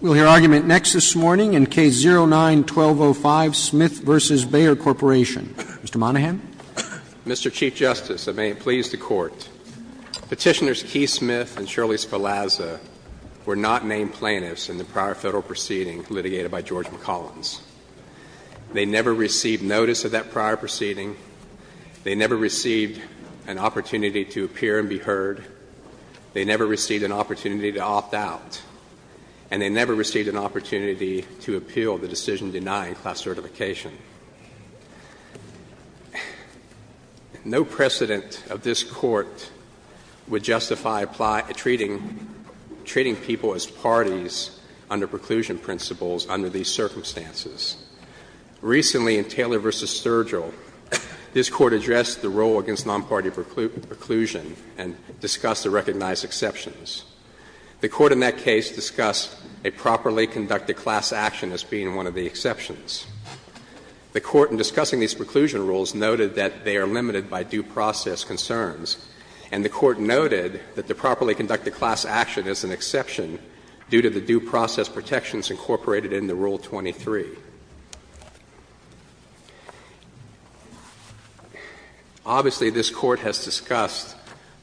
We'll hear argument next this morning in Case 09-1205, Smith v. Bayer Corp. Mr. Monahan. Mr. Chief Justice, and may it please the Court. Petitioners Keith Smith and Shirley Scalazza were not named plaintiffs in the prior Federal proceeding litigated by George McCollins. They never received notice of that prior proceeding. They never received an opportunity to appear and be heard. They never received an opportunity to opt out. And they never received an opportunity to appeal the decision denying class certification. No precedent of this Court would justify treating people as parties under preclusion principles under these circumstances. Recently, in Taylor v. Sturgill, this Court addressed the role against nonparty preclusion and discussed the recognized exceptions. The Court in that case discussed a properly conducted class action as being one of the exceptions. The Court in discussing these preclusion rules noted that they are limited by due process concerns, and the Court noted that the properly conducted class action is an exception due to the due process protections incorporated in the Rule 23. Obviously, this Court has discussed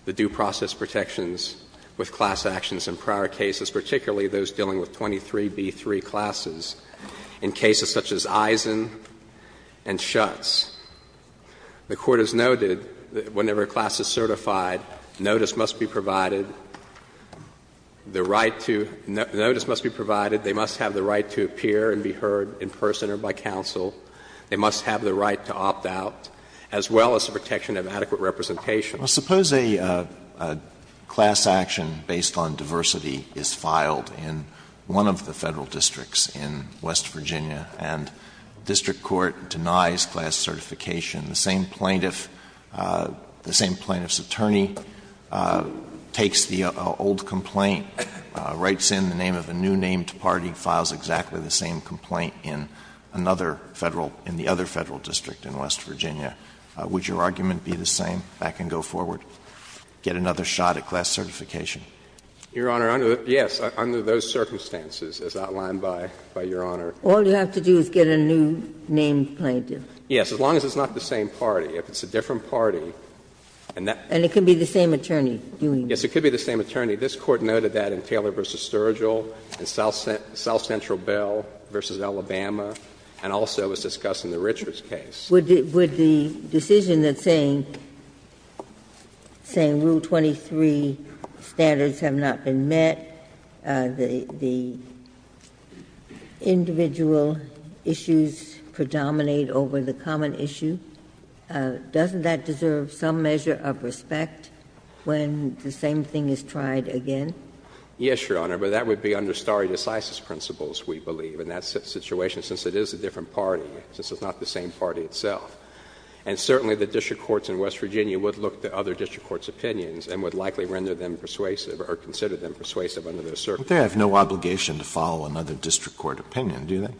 the due process protections with class actions in prior cases, particularly those dealing with 23b3 classes in cases such as Eisen and Schutz. The Court has noted that whenever a class is certified, notice must be provided, the right to – notice must be provided, they must have the right to appear and be heard in person or by counsel, they must have the right to opt out, as well as the protection of adequate representation. Well, suppose a class action based on diversity is filed in one of the Federal districts in West Virginia, and district court denies class certification. The same plaintiff, the same plaintiff's attorney, takes the old complaint, writes in the name of a new named party, files exactly the same complaint in another Federal – in the other Federal district in West Virginia. Would your argument be the same? Back and go forward. Get another shot at class certification. Your Honor, under the – yes, under those circumstances as outlined by Your Honor. All you have to do is get a new named plaintiff. Yes, as long as it's not the same party. If it's a different party, and that – And it could be the same attorney doing it. Yes, it could be the same attorney. This Court noted that in Taylor v. Sturgill, in South Central Bell v. Alabama, and also was discussed in the Richards case. Would the decision that's saying, saying Rule 23 standards have not been met, the individual issues predominate over the common issue, doesn't that deserve some measure of respect when the same thing is tried again? Yes, Your Honor. But that would be under stare decisis principles, we believe, in that situation, since it is a different party, since it's not the same party itself. And certainly the district courts in West Virginia would look to other district courts' opinions and would likely render them persuasive or consider them persuasive under those circumstances. But they have no obligation to follow another district court opinion, do they?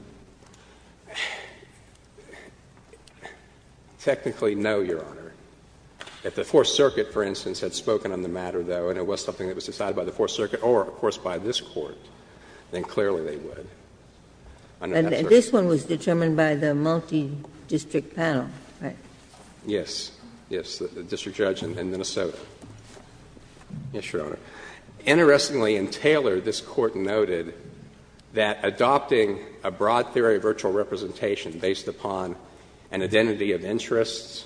Technically, no, Your Honor. If the Fourth Circuit, for instance, had spoken on the matter, though, and it was something that was decided by the Fourth Circuit or, of course, by this Court, then clearly they would. And this one was determined by the multi-district panel, right? Yes. Yes. The district judge in Minnesota. Yes, Your Honor. Interestingly, in Taylor, this Court noted that adopting a broad theory of virtual representation based upon an identity of interests,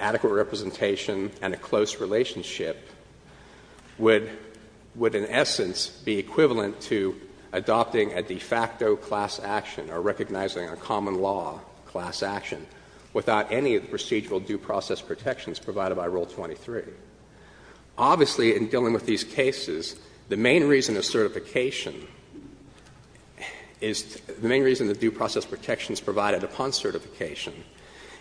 adequate representation and a close relationship would in essence be equivalent to adopting a de facto class action or recognizing a common law class action without any of the procedural due process protections provided by Rule 23. Obviously, in dealing with these cases, the main reason of certification is the main reason the due process protections provided upon certification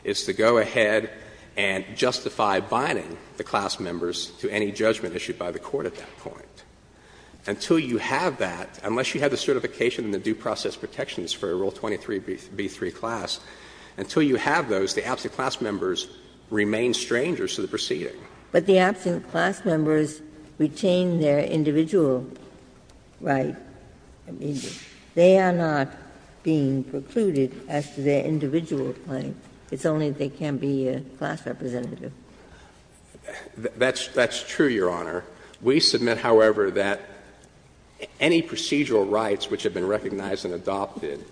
is to go ahead and justify binding the class members to any judgment issued by the court at that point. Until you have that, unless you have the certification and the due process protections for Rule 23b3 class, until you have those, the absent class members remain strangers to the proceeding. But the absent class members retain their individual right immediately. They are not being precluded as to their individual claim. It's only if they can be a class representative. That's true, Your Honor. We submit, however, that any procedural rights which have been recognized and adopted,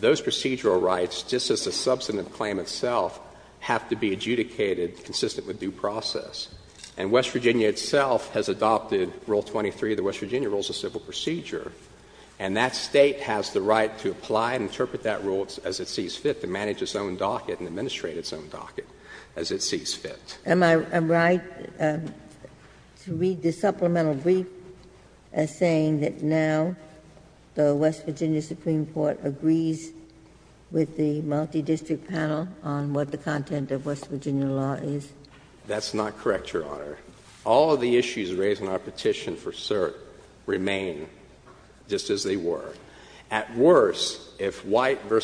those procedural rights, just as the substantive claim itself, have to be adjudicated consistent with due process. And West Virginia itself has adopted Rule 23 of the West Virginia Rules of Civil Procedure, and that State has the right to apply and interpret that rule as it sees fit, to manage its own docket and administrate its own docket as it sees fit. Am I right to read the supplemental brief as saying that now the West Virginia Supreme Court agrees with the multidistrict panel on what the content of West Virginia law is? That's not correct, Your Honor. All of the issues raised in our petition for cert remain just as they were. At worst, if White v.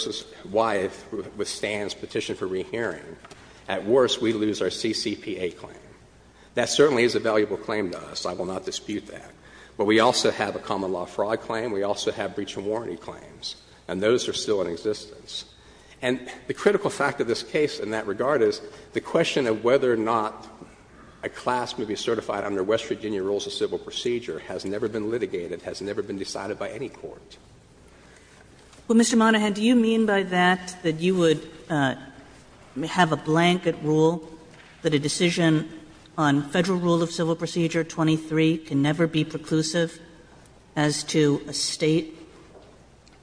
Wyeth withstands petition for rehearing, at worst we lose our CCPA claim. That certainly is a valuable claim to us. I will not dispute that. But we also have a common law fraud claim. We also have breach of warranty claims, and those are still in existence. And the critical fact of this case in that regard is the question of whether or not a class may be certified under West Virginia Rules of Civil Procedure has never been litigated, has never been decided by any court. Well, Mr. Monahan, do you mean by that that you would have a blanket rule that a decision on Federal Rule of Civil Procedure 23 can never be preclusive as to a State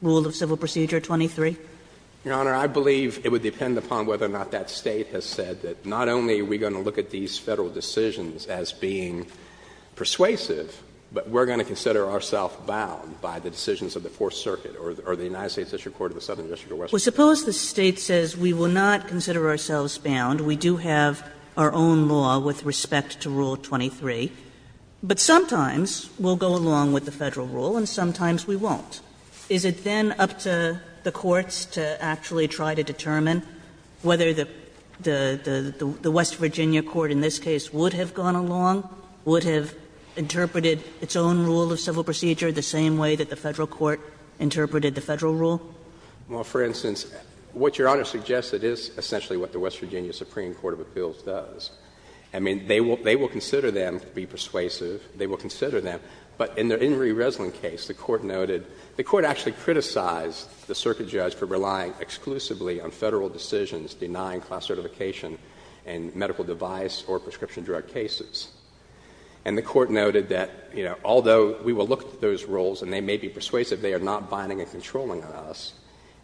Rule of Civil Procedure 23? Your Honor, I believe it would depend upon whether or not that State has said that not only are we going to look at these Federal decisions as being persuasive, but we are going to consider ourselves bound by the decisions of the Fourth Circuit or the United States District Court of the Southern District of West Virginia. Well, suppose the State says we will not consider ourselves bound, we do have our own law with respect to Rule 23, but sometimes we will go along with the Federal rule and sometimes we won't. Is it then up to the courts to actually try to determine whether the West Virginia court in this case would have gone along, would have interpreted its own rule of civil procedure the same way that the Federal court interpreted the Federal rule? Well, for instance, what Your Honor suggests, it is essentially what the West Virginia Supreme Court of Appeals does. I mean, they will consider them to be persuasive, they will consider them. But in the Henry Resland case, the Court noted the Court actually criticized the circuit judge for relying exclusively on Federal decisions denying class certification in medical device or prescription drug cases. And the Court noted that, you know, although we will look at those rules and they may be persuasive, they are not binding and controlling on us.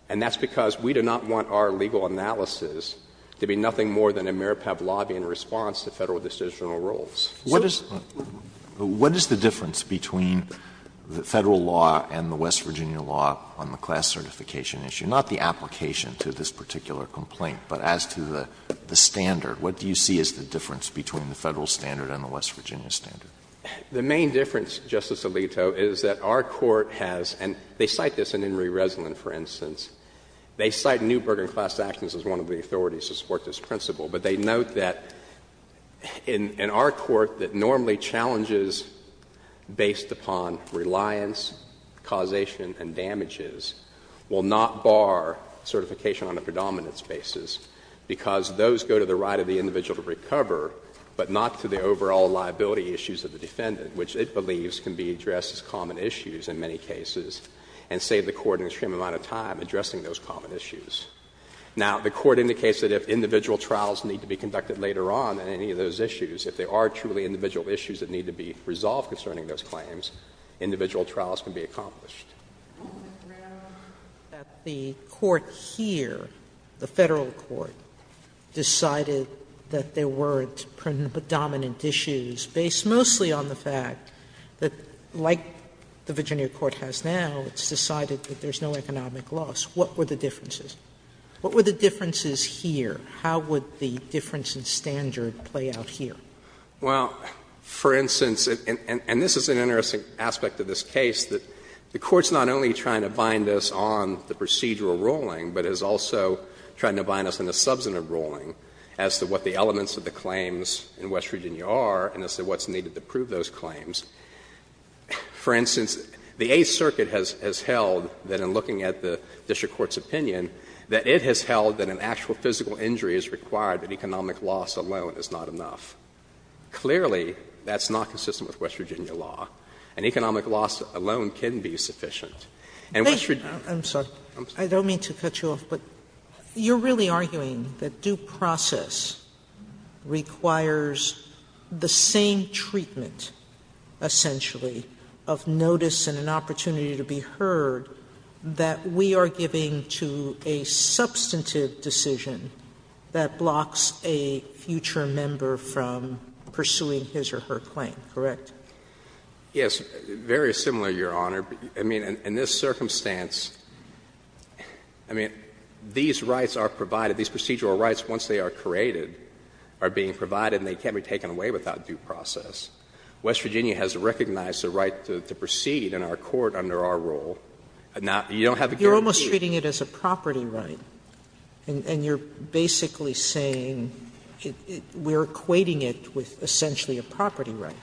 And that's because we do not want our legal analysis to be nothing more than a mere Pavlovian response to Federal decisional rules. What is the difference between the Federal law and the West Virginia law on the class certification issue? Not the application to this particular complaint, but as to the standard, what do you see as the difference between the Federal standard and the West Virginia standard? The main difference, Justice Alito, is that our court has — and they cite this in Henry Resland, for instance. They cite Neuberger in class actions as one of the authorities to support this principle. But they note that in our court that normally challenges based upon reliance, causation and damages will not bar certification on a predominance basis because those go to the right of the individual to recover, but not to the overall liability issues of the defendant, which it believes can be addressed as common issues in many cases and save the court an extreme amount of time addressing those common issues. Now, the Court indicates that if individual trials need to be conducted later on in any of those issues, if there are truly individual issues that need to be resolved concerning those claims, individual trials can be accomplished. Sotomayor, that the court here, the Federal court, decided that there weren't predominant issues based mostly on the fact that, like the Virginia court has now, it's decided that there's no economic loss. What were the differences? What were the differences here? How would the difference in standard play out here? Well, for instance, and this is an interesting aspect of this case, that the Court's not only trying to bind us on the procedural ruling, but is also trying to bind us on the substantive ruling as to what the elements of the claims in West Virginia are and as to what's needed to prove those claims. For instance, the Eighth Circuit has held that in looking at the district court's opinion, that it has held that an actual physical injury is required, that economic loss alone is not enough. Clearly, that's not consistent with West Virginia law. And economic loss alone can be sufficient. And West Virginia. Sotomayor, I'm sorry. I don't mean to cut you off, but you're really arguing that due process requires the same treatment, essentially, of notice and an opportunity to be heard that we are giving to a substantive decision that blocks a future member from pursuing his or her claim, correct? Yes. Very similar, Your Honor. I mean, in this circumstance, I mean, these rights are provided, these procedural rights, once they are created, are being provided and they can't be taken away without due process. West Virginia has recognized the right to proceed in our Court under our rule. Now, you don't have the guarantee. You're almost treating it as a property right. And you're basically saying we're equating it with essentially a property right.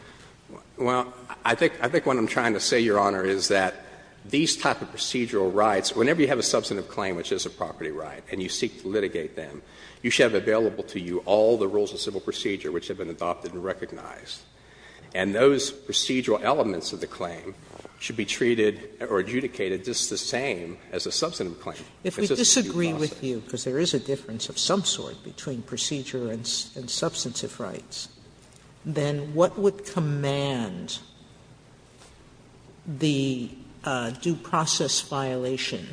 Well, I think what I'm trying to say, Your Honor, is that these type of procedural rights, whenever you have a substantive claim which is a property right and you seek to litigate them, you should have available to you all the rules of civil procedure which have been adopted and recognized. And those procedural elements of the claim should be treated or adjudicated just the same as a substantive claim. If it's a due process. Sotomayor If we disagree with you, because there is a difference of some sort between procedure and substantive rights, then what would command the due process violation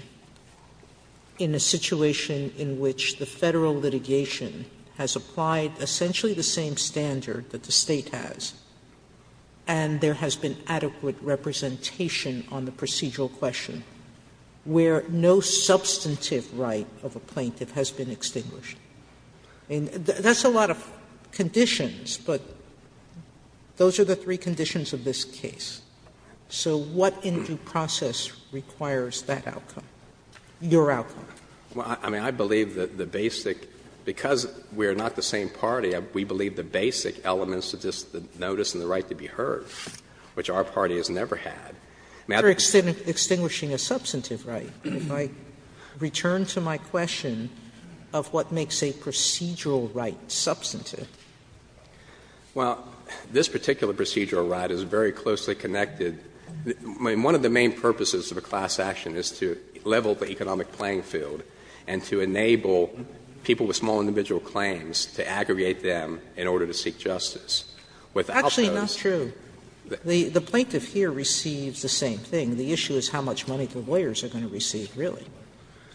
in a situation in which the Federal litigation has applied essentially the same standard that the State has? And there has been adequate representation on the procedural question where no substantive right of a plaintiff has been extinguished. That's a lot of conditions, but those are the three conditions of this case. So what in due process requires that outcome, your outcome? Well, I mean, I believe that the basic – because we're not the same party, we believe the basic elements of this, the notice and the right to be heard, which our party has never had. I mean, I don't think that's the case. Sotomayor You're extinguishing a substantive right. If I return to my question of what makes a procedural right substantive. Well, this particular procedural right is very closely connected. I mean, one of the main purposes of a class action is to level the economic playing field and to enable people with small individual claims to aggregate them in order to seek justice. Sotomayor Actually, it's not true. The plaintiff here receives the same thing. The issue is how much money the lawyers are going to receive, really.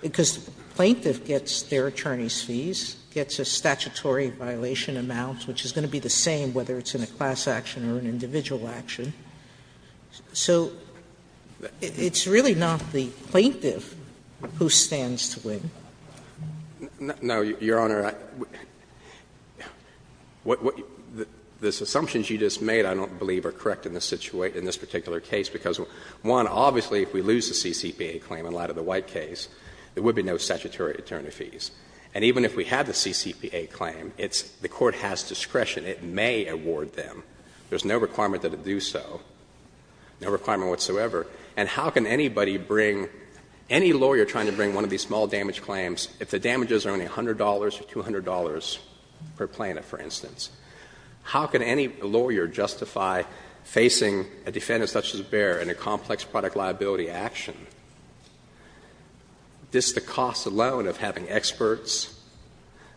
Because the plaintiff gets their attorney's fees, gets a statutory violation amount, which is going to be the same whether it's in a class action or an individual action. So it's really not the plaintiff who stands to win. No, Your Honor, the assumptions you just made, I don't believe, are correct in this particular case, because, one, obviously if we lose the CCPA claim in light of the White case, there would be no statutory attorney fees. And even if we had the CCPA claim, it's the court has discretion. It may award them. There's no requirement that it do so, no requirement whatsoever. And how can anybody bring, any lawyer trying to bring one of these small damage claims, if the damages are only $100 or $200 per plaintiff, for instance, how can any lawyer justify facing a defendant such as Baer in a complex product liability action? This, the cost alone of having experts,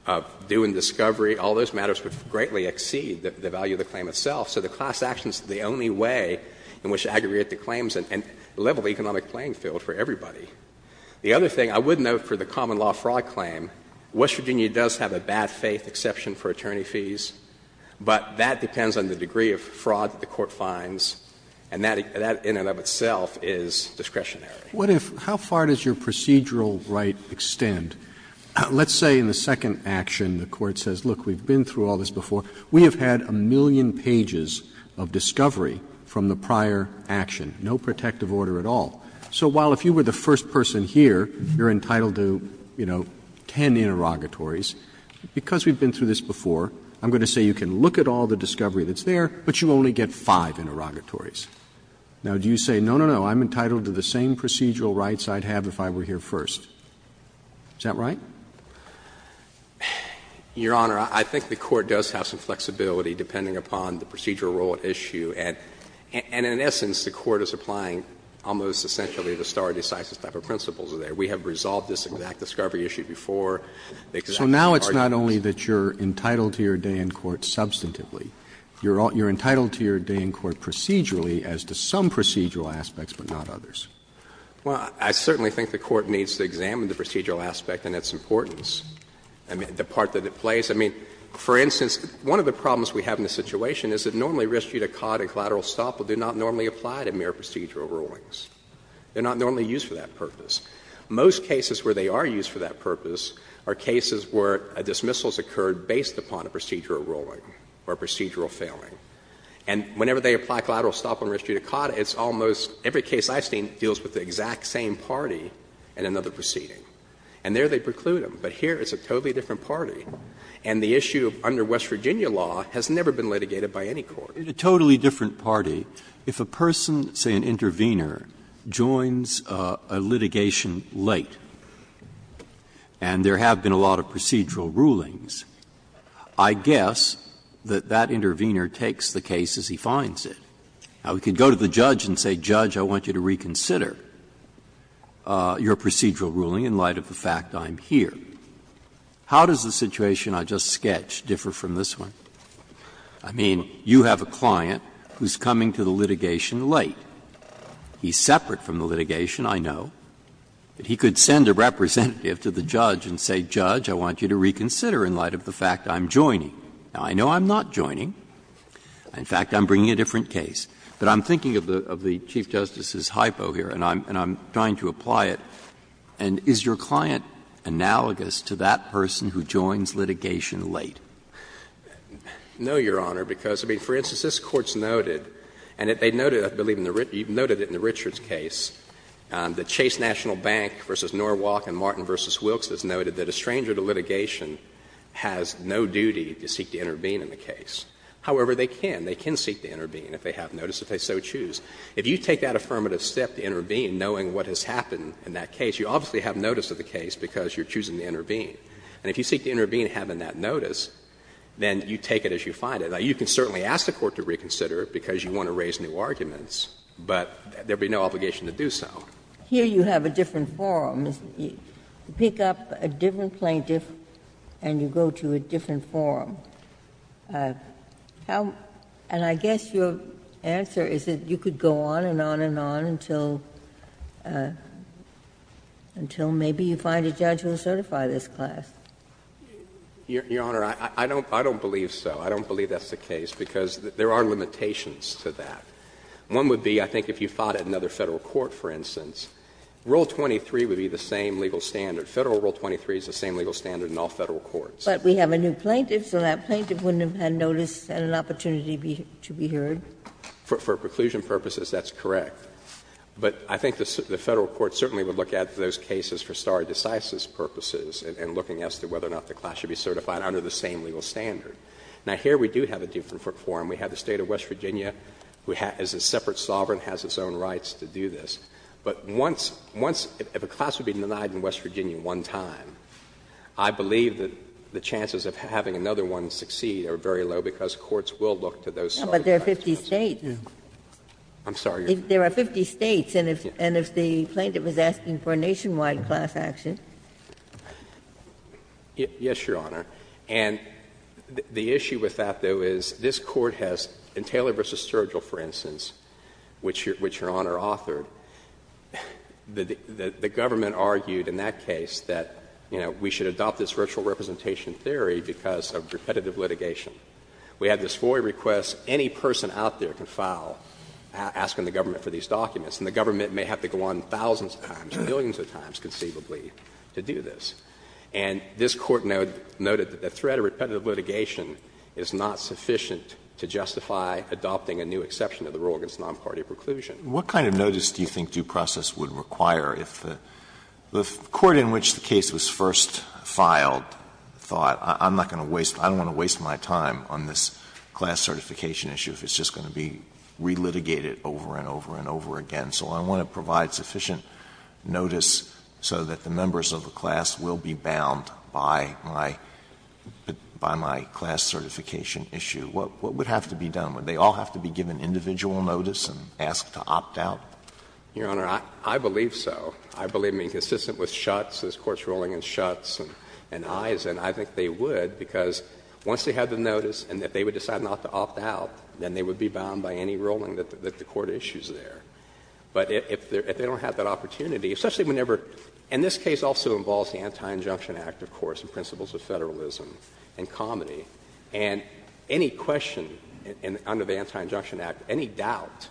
of doing discovery, all those matters would greatly exceed the value of the claim itself. So the class action is the only way in which to aggregate the claims and level the economic playing field for everybody. The other thing, I would note for the common law fraud claim, West Virginia does have a bad faith exception for attorney fees, but that depends on the degree of fraud that the court finds, and that in and of itself is discretionary. Roberts. What if, how far does your procedural right extend? Let's say in the second action the court says, look, we've been through all this before, we have had a million pages of discovery from the prior action, no protective order at all. So while if you were the first person here, you're entitled to, you know, ten interrogatories, because we've been through this before, I'm going to say you can look at all the discovery that's there, but you only get five interrogatories. Now, do you say, no, no, no, I'm entitled to the same procedural rights I'd have if I were here first? Is that right? Your Honor, I think the court does have some flexibility depending upon the procedural role at issue, and in essence, the court is applying almost essentially the stare decisis type of principles there. We have resolved this exact discovery issue before. Roberts. So now it's not only that you're entitled to your day in court substantively. You're entitled to your day in court procedurally as to some procedural aspects, but not others. Well, I certainly think the court needs to examine the procedural aspect, and it's important, I mean, the part that it plays. I mean, for instance, one of the problems we have in this situation is that normally res judicata collateral estoppel do not normally apply to mere procedural rulings. They're not normally used for that purpose. Most cases where they are used for that purpose are cases where a dismissal has occurred based upon a procedural ruling or a procedural failing. And whenever they apply collateral estoppel and res judicata, it's almost every case I've seen deals with the exact same party in another proceeding. And there they preclude them. But here it's a totally different party. And the issue under West Virginia law has never been litigated by any court. Breyer, in a totally different party, if a person, say an intervener, joins a litigation late, and there have been a lot of procedural rulings, I guess that that intervener takes the case as he finds it. Now, we could go to the judge and say, Judge, I want you to reconsider your procedural ruling in light of the fact I'm here. How does the situation I just sketched differ from this one? I mean, you have a client who's coming to the litigation late. He's separate from the litigation, I know. But he could send a representative to the judge and say, Judge, I want you to reconsider in light of the fact I'm joining. Now, I know I'm not joining. In fact, I'm bringing a different case. But I'm thinking of the Chief Justice's hypo here, and I'm trying to apply it. And is your client analogous to that person who joins litigation late? No, Your Honor, because, I mean, for instance, this Court's noted, and they noted, I believe in the Richard's case, that Chase National Bank v. Norwalk and Martin v. Wilkes has noted that a stranger to litigation has no duty to seek to intervene in the case. However, they can. They can seek to intervene if they have notice, if they so choose. If you take that affirmative step to intervene, knowing what has happened in that case, you obviously have notice of the case because you're choosing to intervene. And if you seek to intervene having that notice, then you take it as you find it. Now, you can certainly ask the Court to reconsider it because you want to raise new arguments, but there would be no obligation to do so. Here you have a different forum. You pick up a different plaintiff and you go to a different forum. And I guess your answer is that you could go on and on and on until maybe you find a judge who will certify this class. Your Honor, I don't believe so. I don't believe that's the case because there are limitations to that. One would be, I think, if you fought at another Federal court, for instance, Rule 23 would be the same legal standard. Federal Rule 23 is the same legal standard in all Federal courts. But we have a new plaintiff, so that plaintiff wouldn't have had notice and an opportunity to be heard? For preclusion purposes, that's correct. But I think the Federal court certainly would look at those cases for stare decisis purposes and looking as to whether or not the class should be certified under the same legal standard. Now, here we do have a different forum. We have the State of West Virginia, who has a separate sovereign, has its own rights to do this. The chances of having another one succeed are very low because courts will look to those solitary rights. But there are 50 States. I'm sorry? There are 50 States. And if the plaintiff is asking for a nationwide class action? Yes, Your Honor. And the issue with that, though, is this Court has, in Taylor v. Sturgill, for instance, which Your Honor authored, the government argued in that case that, you know, we should adopt this virtual representation theory because of repetitive litigation. We have this FOIA request. Any person out there can file, asking the government for these documents. And the government may have to go on thousands of times, millions of times, conceivably, to do this. And this Court noted that the threat of repetitive litigation is not sufficient to justify adopting a new exception to the rule against nonparty preclusion. Alitoso, what kind of notice do you think due process would require if the court in which the case was first filed thought, I'm not going to waste, I don't want to waste my time on this class certification issue if it's just going to be relitigated over and over and over again. So I want to provide sufficient notice so that the members of the class will be bound by my class certification issue. What would have to be done? Would they all have to be given individual notice and asked to opt out? Your Honor, I believe so. I believe being consistent with Schutz, this Court's ruling in Schutz and Eisen, I think they would, because once they had the notice and if they would decide not to opt out, then they would be bound by any ruling that the court issues there. But if they don't have that opportunity, especially whenever – and this case also involves the Anti-Injunction Act, of course, and principles of federalism and comedy. And any question under the Anti-Injunction Act, any doubt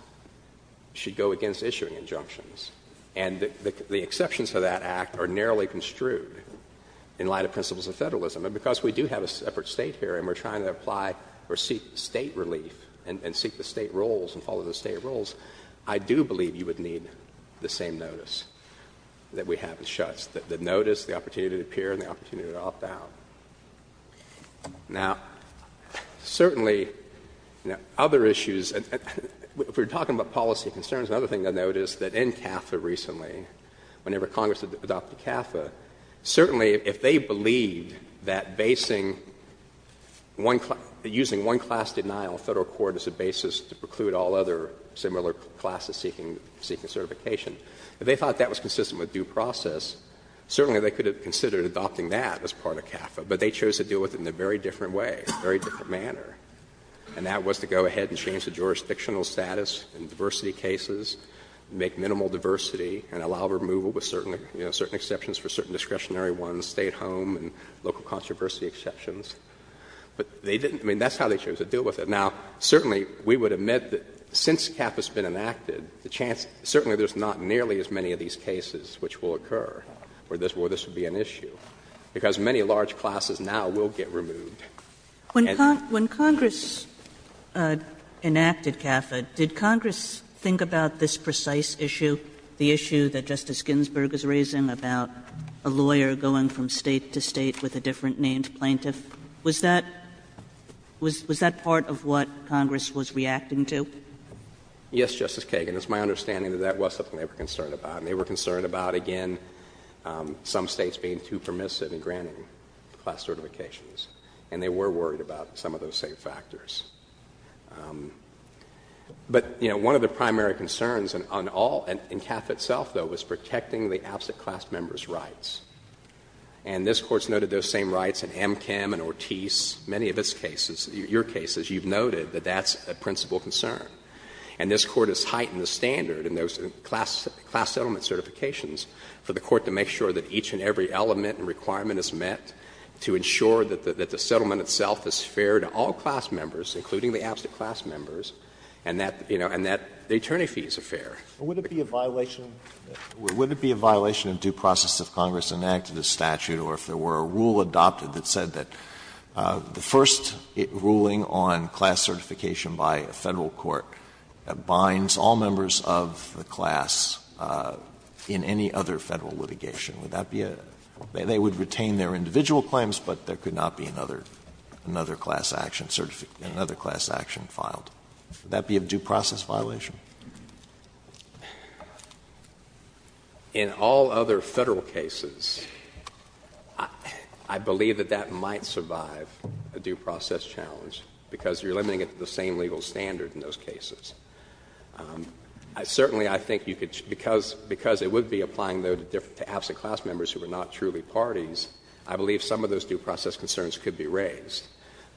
should go against issuing injunctions. And the exceptions to that act are narrowly construed in light of principles of federalism. And because we do have a separate State here and we're trying to apply or seek State relief and seek the State rules and follow the State rules, I do believe you would need the same notice that we have in Schutz, the notice, the opportunity to appear, and the opportunity to opt out. Now, certainly, other issues, if we're talking about policy concerns, another thing to note is that in CAFA recently, whenever Congress adopted CAFA, certainly if they believed that basing one – using one-class denial of federal court as a basis to preclude all other similar classes seeking certification, if they thought that was consistent with due process, certainly they could have considered adopting that as part of CAFA. But they chose to deal with it in a very different way, a very different manner. And that was to go ahead and change the jurisdictional status in diversity cases, make minimal diversity, and allow removal with certain exceptions for certain discretionary ones, State home and local controversy exceptions. But they didn't – I mean, that's how they chose to deal with it. Now, certainly, we would admit that since CAFA has been enacted, the chance – certainly there's not nearly as many of these cases which will occur where this would be an issue, because many large classes now will get removed. Kagan. Kagan. When Congress enacted CAFA, did Congress think about this precise issue, the issue that Justice Ginsberg is raising about a lawyer going from State to State with a different named plaintiff? Was that – was that part of what Congress was reacting to? Yes, Justice Kagan. It's my understanding that that was something they were concerned about, and they were concerned about some states being too permissive in granting class certifications, and they were worried about some of those same factors. But you know, one of the primary concerns on all – in CAFA itself, though, was protecting the absent class members' rights. And this Court's noted those same rights in Amchem and Ortiz, many of its cases – your cases – you've noted that that's a principal concern. And this Court has heightened the standard in those class settlement certifications for the Court to make sure that each and every element and requirement is met, to ensure that the settlement itself is fair to all class members, including the absent class members, and that, you know, and that the attorney fees are fair. But would it be a violation of due process if Congress enacted a statute or if there were a rule adopted that said that the first ruling on class certification by a Federal court binds all members of the class in any other Federal litigation? Would that be a – they would retain their individual claims, but there could not be another – another class action – another class action filed. Would that be a due process violation? In all other Federal cases, I believe that that might survive a due process challenge, because you're limiting it to the same legal standard in those cases. Certainly, I think you could – because it would be applying, though, to absent class members who are not truly parties, I believe some of those due process concerns could be raised.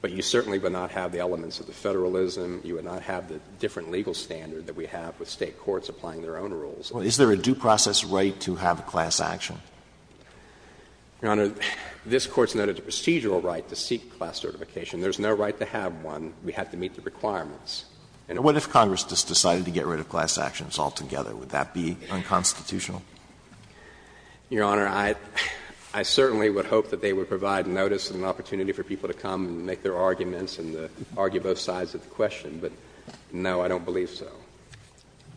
But you certainly would not have the elements of the Federalism, you would not have the different legal standard that we have with State courts applying their own rules. Well, is there a due process right to have a class action? Your Honor, this Court's noted a procedural right to seek class certification. There's no right to have one. We have to meet the requirements. And what if Congress just decided to get rid of class actions altogether? Would that be unconstitutional? Your Honor, I certainly would hope that they would provide notice and an opportunity for people to come and make their arguments and argue both sides of the question. But no, I don't believe so.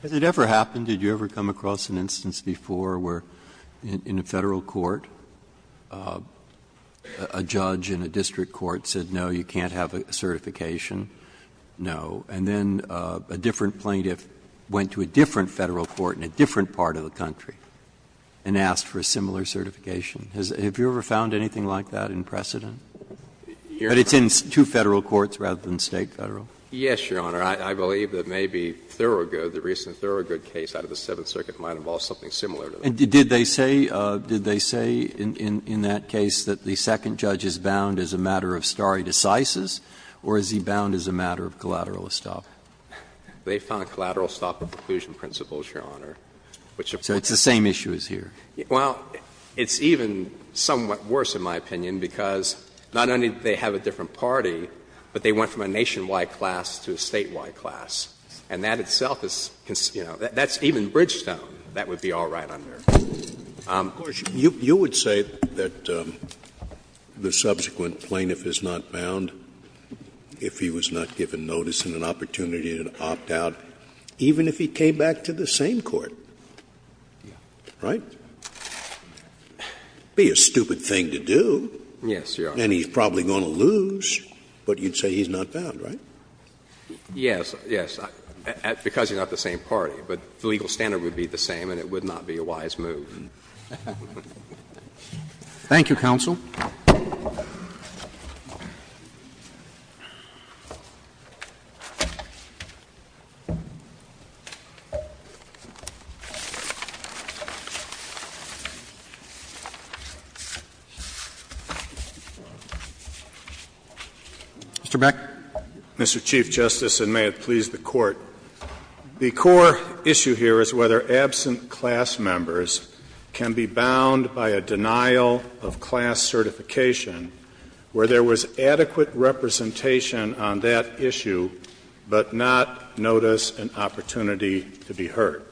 Has it ever happened, did you ever come across an instance before where in a Federal court, a judge in a district court said, no, you can't have a certification? No. And then a different plaintiff went to a different Federal court in a different part of the country and asked for a similar certification. Has – have you ever found anything like that in precedent? But it's in two Federal courts rather than State federal? Yes, Your Honor. I believe that maybe Thurgood, the recent Thurgood case out of the Seventh Circuit might have involved something similar to that. And did they say – did they say in that case that the second judge is bound as a matter of stare decisis, or is he bound as a matter of collateral estoppel? They found collateral estoppel preclusion principles, Your Honor, which are part of the same issue as here. Well, it's even somewhat worse, in my opinion, because not only do they have a different party, but they went from a nationwide class to a statewide class. And that itself is, you know, that's even Bridgestone. That would be all right on there. Of course, you would say that the subsequent plaintiff is not bound if he was not given notice and an opportunity to opt out, even if he came back to the same court, right? It would be a stupid thing to do. Yes, Your Honor. And he's probably going to lose, but you'd say he's not bound, right? Yes, yes, because you're not the same party. But the legal standard would be the same and it would not be a wise move. Thank you, counsel. Mr. Beck. Mr. Chief Justice, and may it please the Court. The core issue here is whether absent class members can be bound by a denial of class certification where there was adequate representation on that issue, but not notice and opportunity to be heard.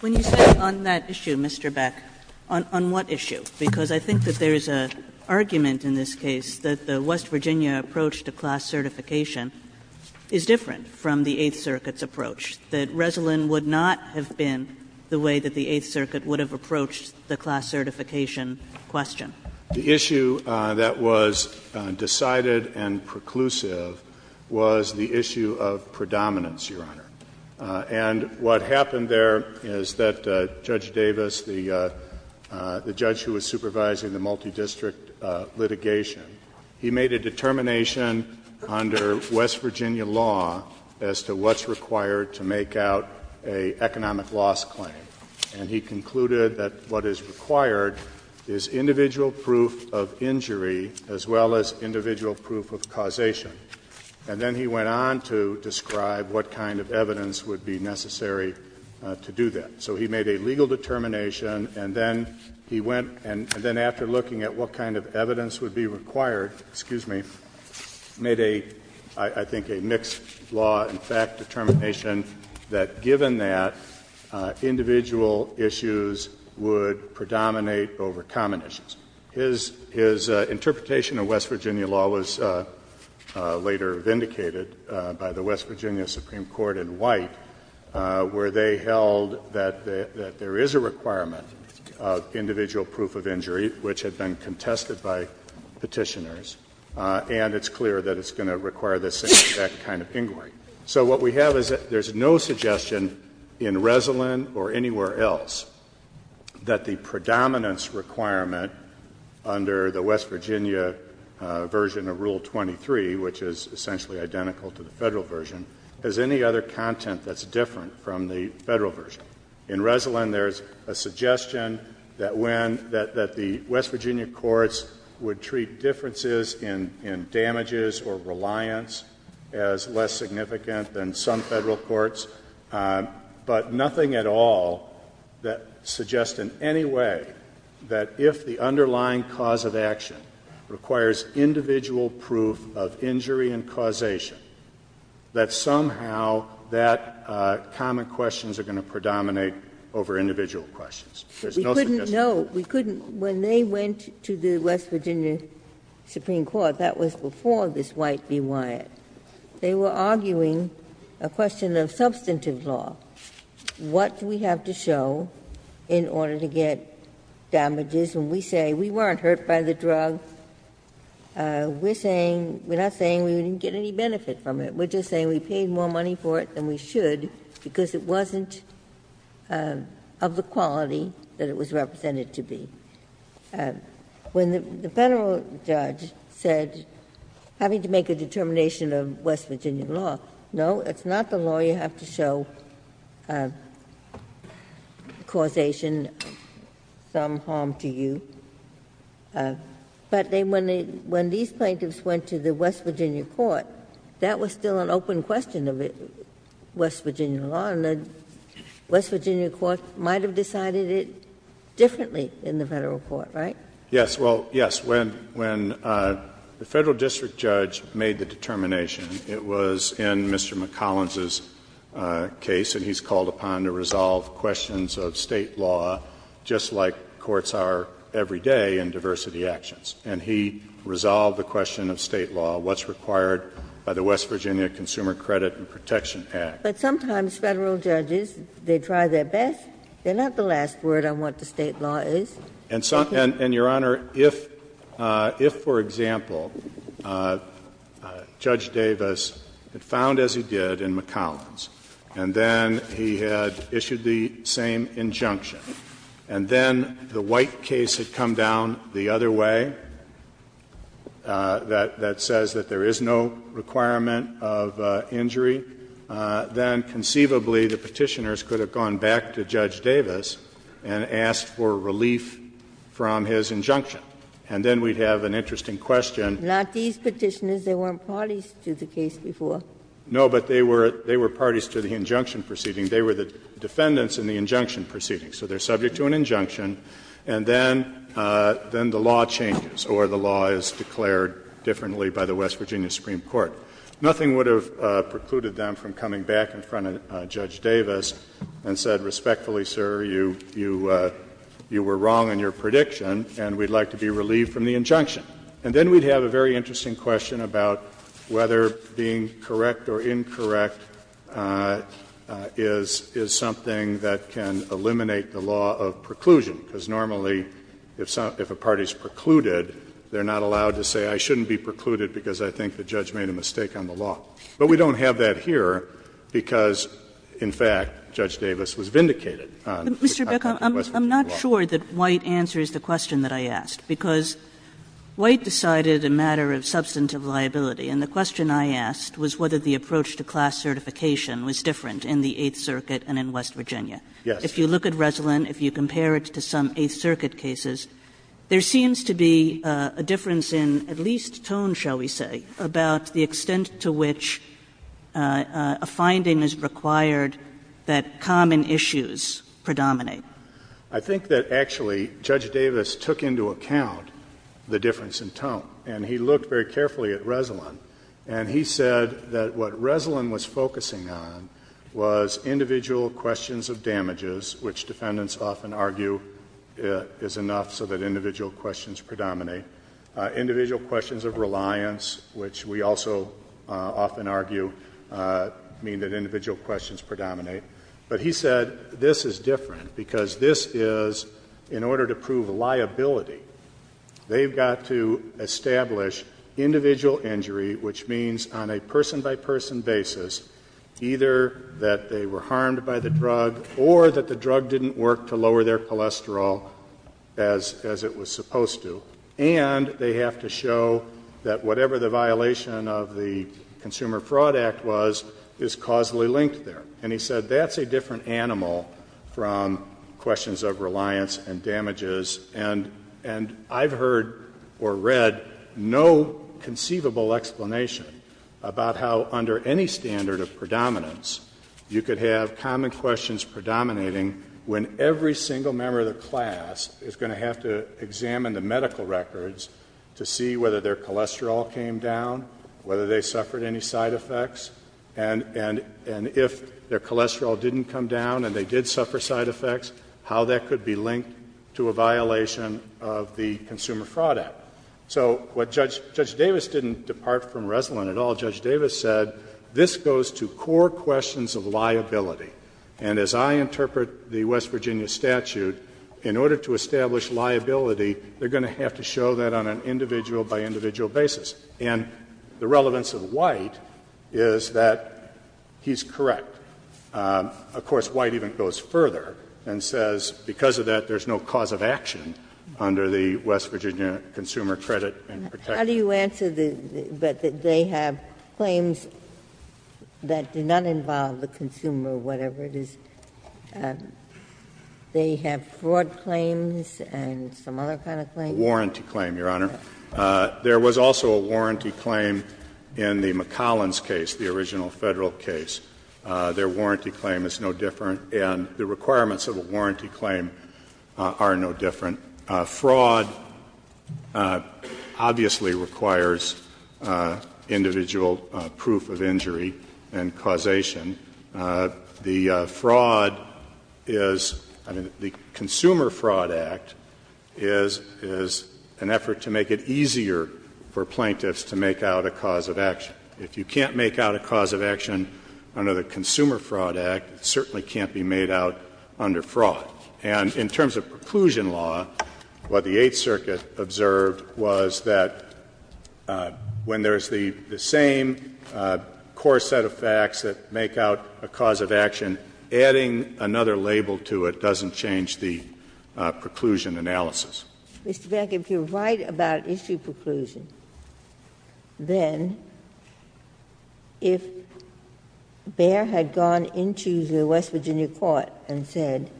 When you say on that issue, Mr. Beck, on what issue? Because I think that there is an argument in this case that the West Virginia approach to class certification is different from the Eighth Circuit's approach, that Resolyn would not have been the way that the Eighth Circuit would have approached the class certification question. The issue that was decided and preclusive was the issue of predominance, Your Honor. And what happened there is that Judge Davis, the judge who was supervising the multidistrict litigation, he made a determination under West Virginia law as to what's required to make out an economic loss claim. And he concluded that what is required is individual proof of injury as well as individual proof of causation. And then he went on to describe what kind of evidence would be necessary to do that. So he made a legal determination, and then he went and then after looking at what kind of evidence would be required, excuse me, made a, I think, a mixed law and fact determination that given that, individual issues would predominate over common issues. His interpretation of West Virginia law was later vindicated by the West Virginia Supreme Court in White, where they held that there is a requirement of individual proof of injury, which had been contested by Petitioners, and it's clear that it's going to require this same exact kind of inquiry. So what we have is that there's no suggestion in Resolyn or anywhere else that the predominance requirement under the West Virginia version of Rule 23, which is essentially identical to the Federal version, has any other content that's different from the Federal version. In Resolyn, there's a suggestion that when, that the West Virginia courts would treat differences in damages or reliance as less significant than some Federal courts, but nothing at all that suggests in any way that if the underlying cause of action requires individual proof of injury and causation, that somehow that common questions are going to predominate over individual questions. There's no suggestion. Ginsburg. We couldn't know. We couldn't. When they went to the West Virginia Supreme Court, that was before this White v. Wyatt, they were arguing a question of substantive law. What do we have to show in order to get damages? When we say we weren't hurt by the drug, we're saying, we're not saying we didn't get any benefit from it. We're just saying we paid more money for it than we should because it wasn't of the quality that it was represented to be. When the Federal judge said, having to make a determination of West Virginia law, no, it's not the law you have to show causation, some harm to you. But when these plaintiffs went to the West Virginia court, that was still an open question of West Virginia law, and the West Virginia court might have decided it differently in the Federal court, right? Yes. Well, yes. When the Federal district judge made the determination, it was in Mr. McCollins' case, and he's called upon to resolve questions of State law just like courts are every day in diversity actions. And he resolved the question of State law, what's required by the West Virginia Consumer Credit and Protection Act. But sometimes Federal judges, they try their best. They're not the last word on what the State law is. And, Your Honor, if, for example, Judge Davis had found, as he did, in McCollins, and then he had issued the same injunction, and then the White case had come down the other way, that says that there is no requirement of injury, then conceivably the Petitioners could have gone back to Judge Davis and asked for relief from his injunction. And then we'd have an interesting question. Ginsburg. Not these Petitioners. They weren't parties to the case before. No, but they were parties to the injunction proceeding. They were the defendants in the injunction proceeding. So they're subject to an injunction, and then the law changes or the law is declared differently by the West Virginia Supreme Court. Nothing would have precluded them from coming back in front of Judge Davis and said, respectfully, sir, you were wrong in your prediction, and we'd like to be relieved from the injunction. And then we'd have a very interesting question about whether being correct or incorrect is something that can eliminate the law of preclusion, because normally if a party is precluded, they're not allowed to say, I shouldn't be precluded because I think the judge made a mistake on the law. But we don't have that here, because, in fact, Judge Davis was vindicated on not having questions about the law. Kagan. Kagan. I'm not sure that White answers the question that I asked, because White decided a matter of substantive liability, and the question I asked was whether the approach to class certification was different in the Eighth Circuit and in West Virginia. If you look at Resolin, if you compare it to some Eighth Circuit cases, there seems to be a difference in at least tone, shall we say, about the extent to which a finding is required that common issues predominate. I think that, actually, Judge Davis took into account the difference in tone, and he looked very carefully at Resolin, and he said that what Resolin was focusing on was individual questions of damages, which defendants often argue is enough so that individual questions predominate, individual questions of reliance, which we also often argue mean that individual questions predominate. But he said, this is different, because this is, in order to prove liability, they've got to establish individual injury, which means on a person-by-person basis, either that they were harmed by the drug or that the drug didn't work to lower their as it was supposed to, and they have to show that whatever the violation of the Consumer Fraud Act was is causally linked there. And he said that's a different animal from questions of reliance and damages, and I've heard or read no conceivable explanation about how under any standard of predominance you could have common questions predominating when every single member of the class is going to have to examine the medical records to see whether their cholesterol came down, whether they suffered any side effects, and if their cholesterol didn't come down and they did suffer side effects, how that could be linked to a violation of the Consumer Fraud Act. So what Judge Davis didn't depart from Resolin at all, Judge Davis said, this goes to core questions of liability. And as I interpret the West Virginia statute, in order to establish liability, they're going to have to show that on an individual-by-individual basis. And the relevance of White is that he's correct. Of course, White even goes further and says because of that, there's no cause of action How do you answer that they have claims that do not involve the consumer or whatever it is? They have fraud claims and some other kind of claims? Warranty claim, Your Honor. There was also a warranty claim in the McCollins case, the original Federal case. Their warranty claim is no different, and the requirements of a warranty claim are no different. Fraud obviously requires individual proof of injury and causation. The fraud is the Consumer Fraud Act is an effort to make it easier for plaintiffs to make out a cause of action. If you can't make out a cause of action under the Consumer Fraud Act, it certainly can't be made out under fraud. And in terms of preclusion law, what the Eighth Circuit observed was that when there is the same core set of facts that make out a cause of action, adding another label to it doesn't change the preclusion analysis. Ginsburg. Mr. Beck, if you're right about issue preclusion, then if Behr had gone into the West Virginia court and said,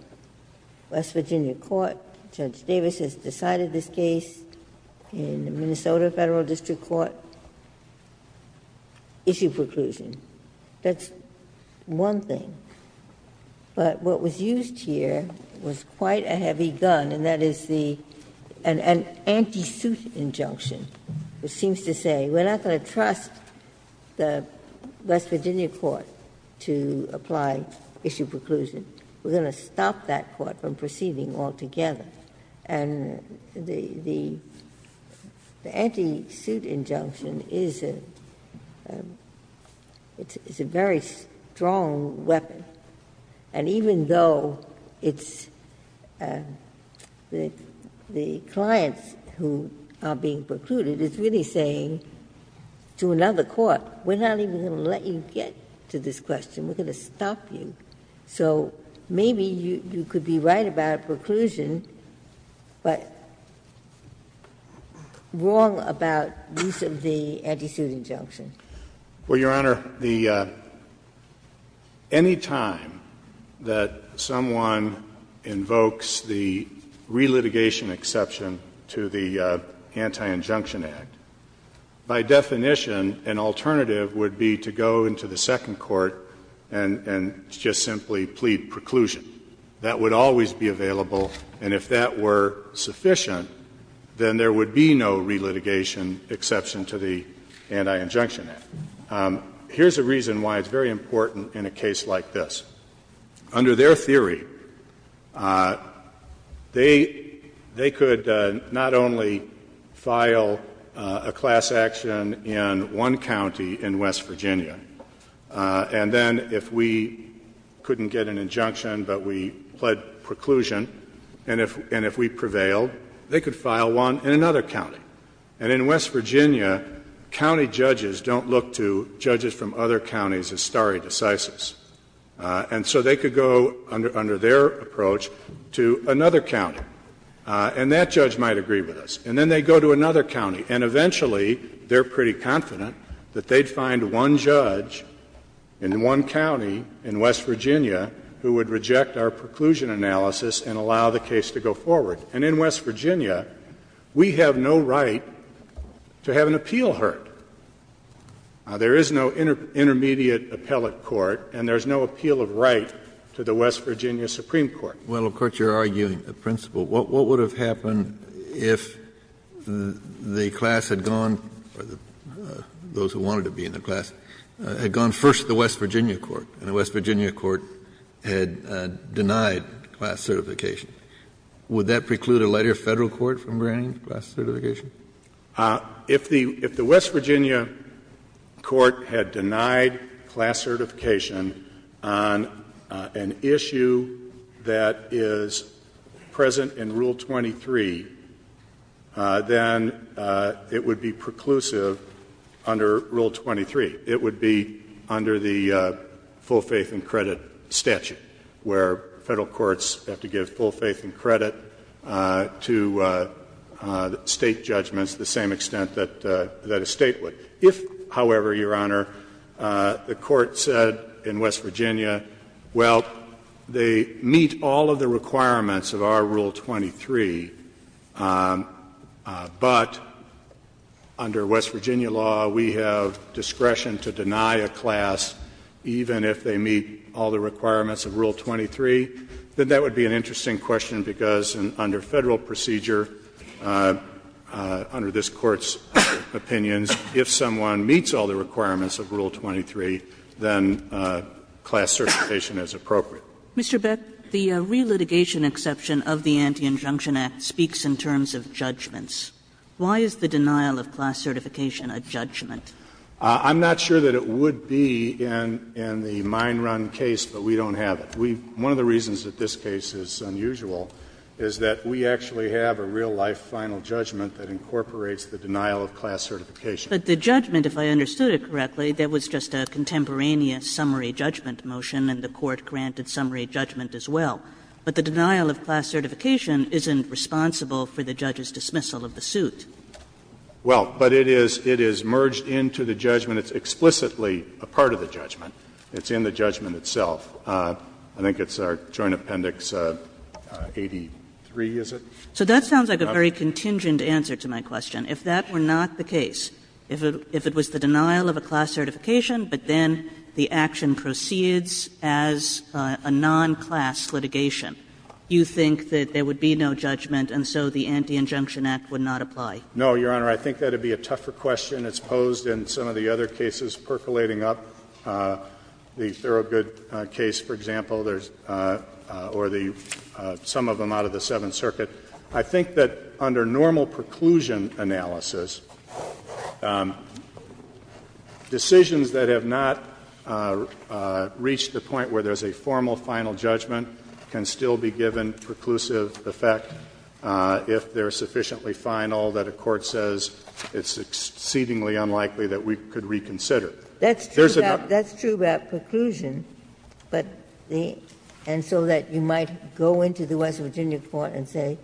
West Virginia court, Judge Davis has decided this case in the Minnesota Federal District Court, issue preclusion, that's one thing. But what was used here was quite a heavy gun, and that is the an anti-suit injunction, which seems to say we're not going to trust the West Virginia court to apply issue preclusion, we're going to stop that court from proceeding altogether. And the anti-suit injunction is a very strong weapon, and even though it's the clients who are being precluded, it's really saying to another court, we're not even going to let you get to this question. We're going to stop you. So maybe you could be right about preclusion, but wrong about use of the anti-suit injunction. Beckmann, Well, Your Honor, the any time that someone invokes the relitigation exception to the Anti-Injunction Act, by definition, an alternative would be to go into the second court and just simply plead preclusion. That would always be available, and if that were sufficient, then there would be no relitigation exception to the Anti-Injunction Act. Here's a reason why it's very important in a case like this. Under their theory, they could not only file a class action in one county in West Virginia, and then if we couldn't get an injunction but we pled preclusion, and if we prevailed, they could file one in another county. And in West Virginia, county judges don't look to judges from other counties as stare decisis, and so they could go under their approach to another county, and that judge might agree with us. And then they go to another county, and eventually they're pretty confident that they'd find one judge in one county in West Virginia who would reject our preclusion analysis and allow the case to go forward. And in West Virginia, we have no right to have an appeal heard. There is no intermediate appellate court, and there's no appeal of right to the West Virginia Supreme Court. Kennedy, Well, of course, you're arguing a principle. What would have happened if the class had gone, or those who wanted to be in the class, had gone first to the West Virginia court, and the West Virginia court had denied class certification? Would that preclude a later Federal court from granting class certification? If the West Virginia court had denied class certification on an issue that is present in Rule 23, then it would be preclusive under Rule 23. It would be under the full faith and credit statute, where Federal courts have to give full faith and credit to State judgments to the same extent that a State would. If, however, Your Honor, the court said in West Virginia, well, they meet all of the requirements of Rule 23, but under West Virginia law, we have discretion to deny a class even if they meet all the requirements of Rule 23, then that would be an interesting question, because under Federal procedure, under this Court's opinions, if someone meets all the requirements of Rule 23, then class certification is appropriate. Kagan. Kagan. Mr. Beck, the relitigation exception of the Anti-Injunction Act speaks in terms of judgments. Why is the denial of class certification a judgment? Beck. I'm not sure that it would be in the mine run case, but we don't have it. We've one of the reasons that this case is unusual is that we actually have a real life final judgment that incorporates the denial of class certification. But the judgment, if I understood it correctly, that was just a contemporaneous summary judgment motion, and the Court granted summary judgment as well. But the denial of class certification isn't responsible for the judge's dismissal of the suit. Well, but it is merged into the judgment. It's explicitly a part of the judgment. It's in the judgment itself. I think it's our Joint Appendix 83, is it? So that sounds like a very contingent answer to my question. If that were not the case, if it was the denial of a class certification, but then the action proceeds as a non-class litigation, you think that there would be no judgment and so the Anti-Injunction Act would not apply? No, Your Honor. I think that would be a tougher question. It's posed in some of the other cases percolating up, the Thorogood case, for example, or the some of them out of the Seventh Circuit. I think that under normal preclusion analysis, decisions that have not reached the point where there's a formal final judgment can still be given preclusive effect if they're sufficiently final that a court says it's exceedingly unlikely that we could reconsider. There's a doubt. That's true about preclusion, but the — and so that you might go into the West Virginia court and say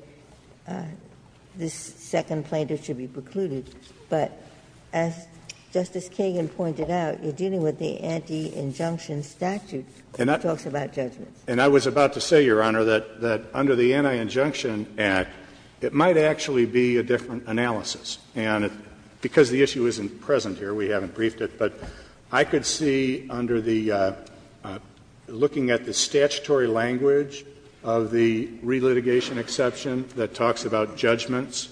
this second plaintiff should be precluded. But as Justice Kagan pointed out, you're dealing with the Anti-Injunction statute that talks about judgments. And I was about to say, Your Honor, that under the Anti-Injunction Act, it might actually be a different analysis. And because the issue isn't present here, we haven't briefed it, but I could see under the — looking at the statutory language of the relitigation exception that talks about judgments,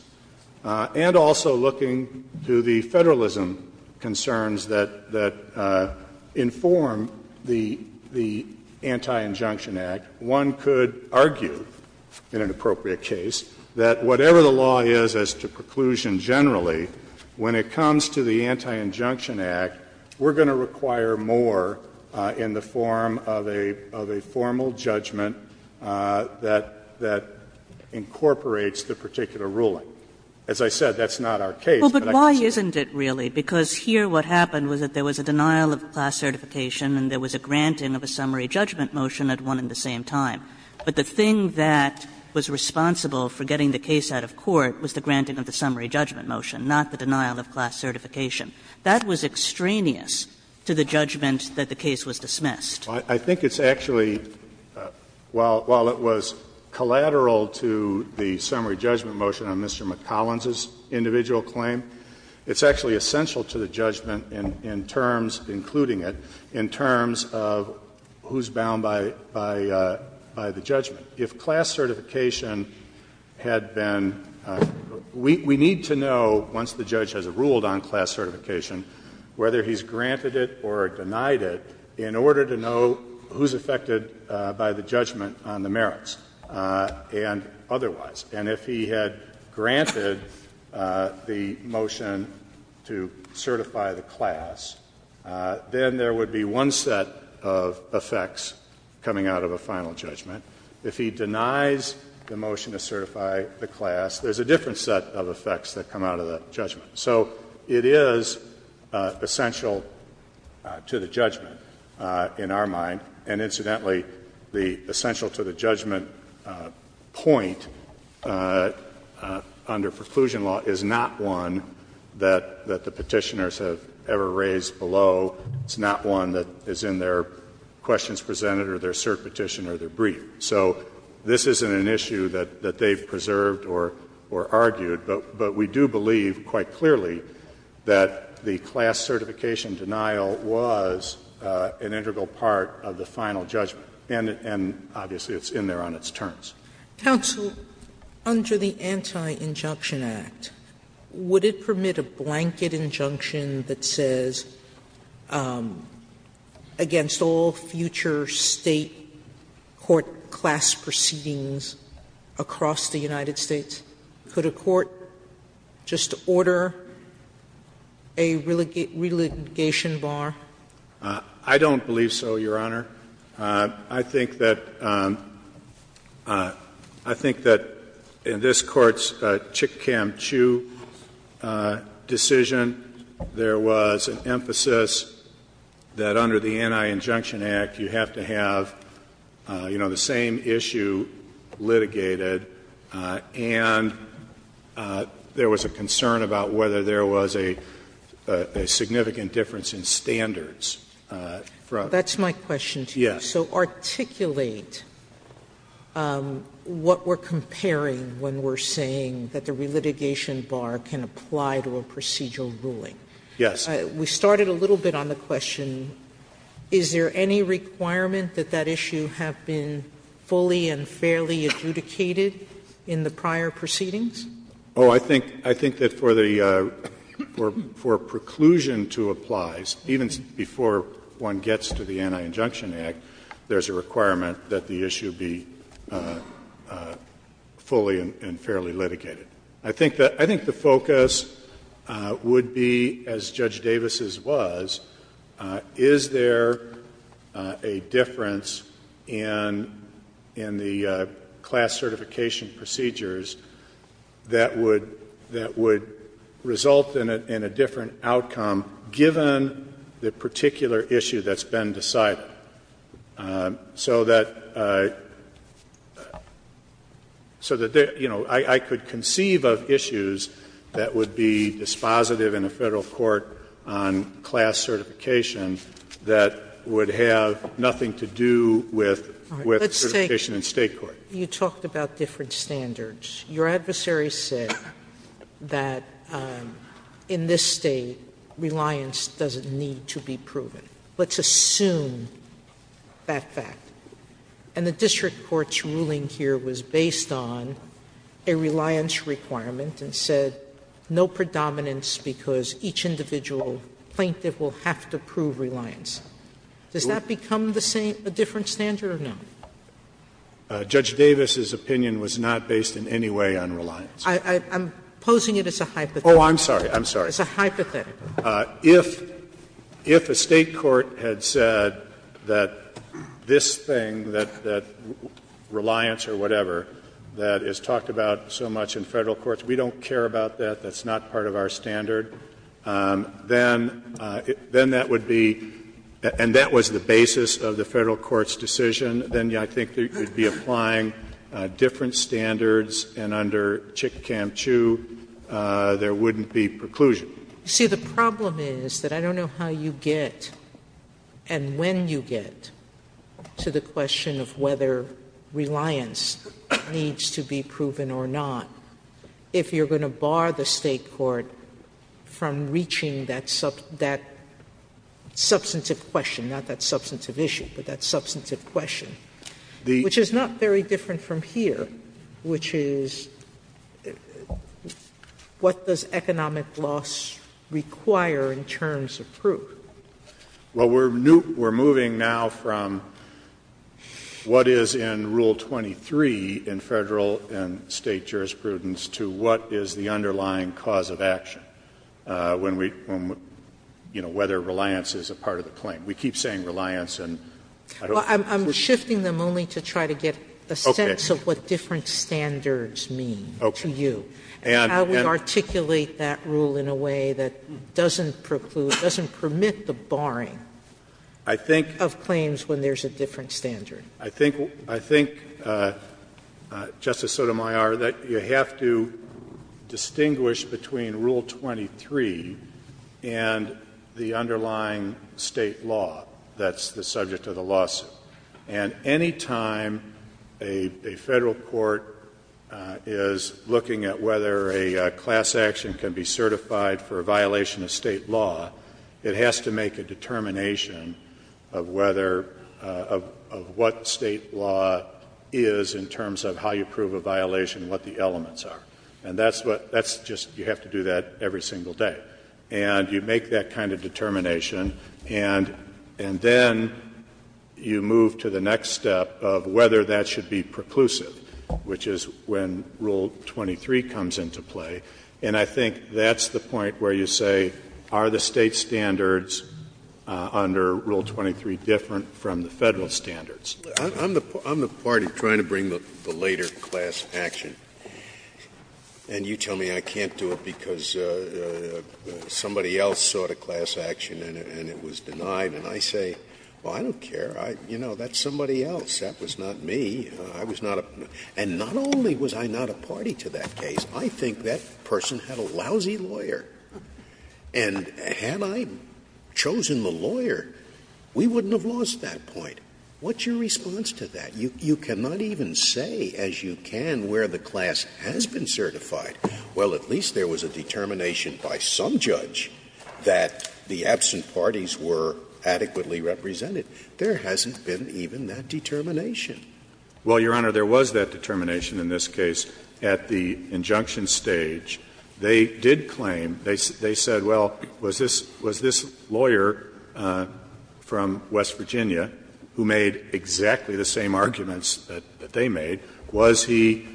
and also looking to the Federalism concerns that — that inform the — the Anti-Injunction Act, one could argue in an appropriate case that whatever the law is as to preclusion generally, when it comes to the Anti-Injunction Act, we're going to require more in the form of a formal judgment that incorporates the particular ruling. As I said, that's not our case, but I could see that. Kagan. Kagan. Kagan. But why isn't it really? Because here what happened was that there was a denial of class certification and there was a granting of a summary judgment motion at one and the same time. But the thing that was responsible for getting the case out of court was the granting of the summary judgment motion, not the denial of class certification. That was extraneous to the judgment that the case was dismissed. I think it's actually, while it was collateral to the summary judgment motion on Mr. McCollins' individual claim, it's actually essential to the judgment in terms, including it, in terms of who's bound by the judgment. If class certification had been we need to know, once the judge has a ruled on class certification, whether he's granted it or denied it in order to know who's affected by the judgment on the merits and otherwise. And if he had granted the motion to certify the class, then there would be one set of effects coming out of a final judgment. If he denies the motion to certify the class, there's a different set of effects that come out of that judgment. So it is essential to the judgment in our mind. And, incidentally, the essential to the judgment point under preclusion law is not one that the Petitioners have ever raised below, it's not one that is in their questions presented or their cert petition or their brief. So this isn't an issue that they've preserved or argued, but we do believe, quite clearly, that the class certification denial was an integral part of the final judgment. And, obviously, it's in there on its terms. Sotomayor, under the Anti-Injunction Act, would it permit a blanket injunction that says against all future State court class proceedings across the United States, could a court just order a relitigation bar? I don't believe so, Your Honor. I think that in this Court's Chick-Cam-Chu decision, there was an emphasis that under the Anti-Injunction Act, you have to have, you know, the same issue litigated and there was a concern about whether there was a significant difference in standards. That's my question to you. So articulate what we're comparing when we're saying that the relitigation bar can apply to a procedural ruling. Yes. We started a little bit on the question, is there any requirement that that issue have been fully and fairly adjudicated in the prior proceedings? Oh, I think that for the — for preclusion to apply, even before one gets to the Anti-Injunction Act, there's a requirement that the issue be fully and fairly litigated. I think the focus would be, as Judge Davis's was, is there a difference in the standard in the class certification procedures that would result in a different outcome given the particular issue that's been decided? So that, you know, I could conceive of issues that would be dispositive in a Federal court on class certification that would have nothing to do with certification in State court. You talked about different standards. Your adversary said that in this State, reliance doesn't need to be proven. Let's assume that fact. And the district court's ruling here was based on a reliance requirement and said no predominance because each individual plaintiff will have to prove reliance. Does that become the same — a different standard or no? Judge Davis's opinion was not based in any way on reliance. I'm posing it as a hypothetical. Oh, I'm sorry. I'm sorry. It's a hypothetical. If a State court had said that this thing, that reliance or whatever, that is talked about so much in Federal courts, we don't care about that, that's not part of our standard, then that would be — and that was the basis of the Federal court's decision, then I think you would be applying different standards, and under Chick Cam Chu, there wouldn't be preclusion. Sotomayor, you see, the problem is that I don't know how you get and when you get to the question of whether reliance needs to be proven or not if you're going to bar the State court from reaching that substantive question, not that substantive issue, but that substantive question, which is not very different from here, which is what does economic loss require in terms of proof? Well, we're moving now from what is in Rule 23 in Federal and State jurisprudence to what is the underlying cause of action when we, you know, whether reliance is a part of the claim. We keep saying reliance and I don't think we're going to get to that. Sotomayor, I'm shifting them only to try to get a sense of what different standards mean to you. And how we articulate that rule in a way that doesn't preclude, doesn't permit the barring of claims when there's a different standard. I think, Justice Sotomayor, that you have to distinguish between Rule 23 and the underlying State law that's the subject of the lawsuit. And any time a Federal court is looking at whether a class action can be certified for a violation of State law, it has to make a determination of whether, of what State law is in terms of how you prove a violation, what the elements are. And that's what, that's just, you have to do that every single day. And you make that kind of determination and then you move to the next step of whether that should be preclusive, which is when Rule 23 comes into play. And I think that's the point where you say, are the State standards under Rule 23 different from the Federal standards? Scalia. I'm the party trying to bring the later class action. And you tell me I can't do it because somebody else sought a class action and it was denied. And I say, well, I don't care. I, you know, that's somebody else. That was not me. I was not a, and not only was I not a party to that case. I think that person had a lousy lawyer. And had I chosen the lawyer, we wouldn't have lost that point. What's your response to that? You cannot even say as you can where the class has been certified. Well, at least there was a determination by some judge that the absent parties were adequately represented. There hasn't been even that determination. Well, Your Honor, there was that determination in this case at the injunction stage. They did claim, they said, well, was this lawyer from West Virginia who made exactly the same arguments that they made, was he,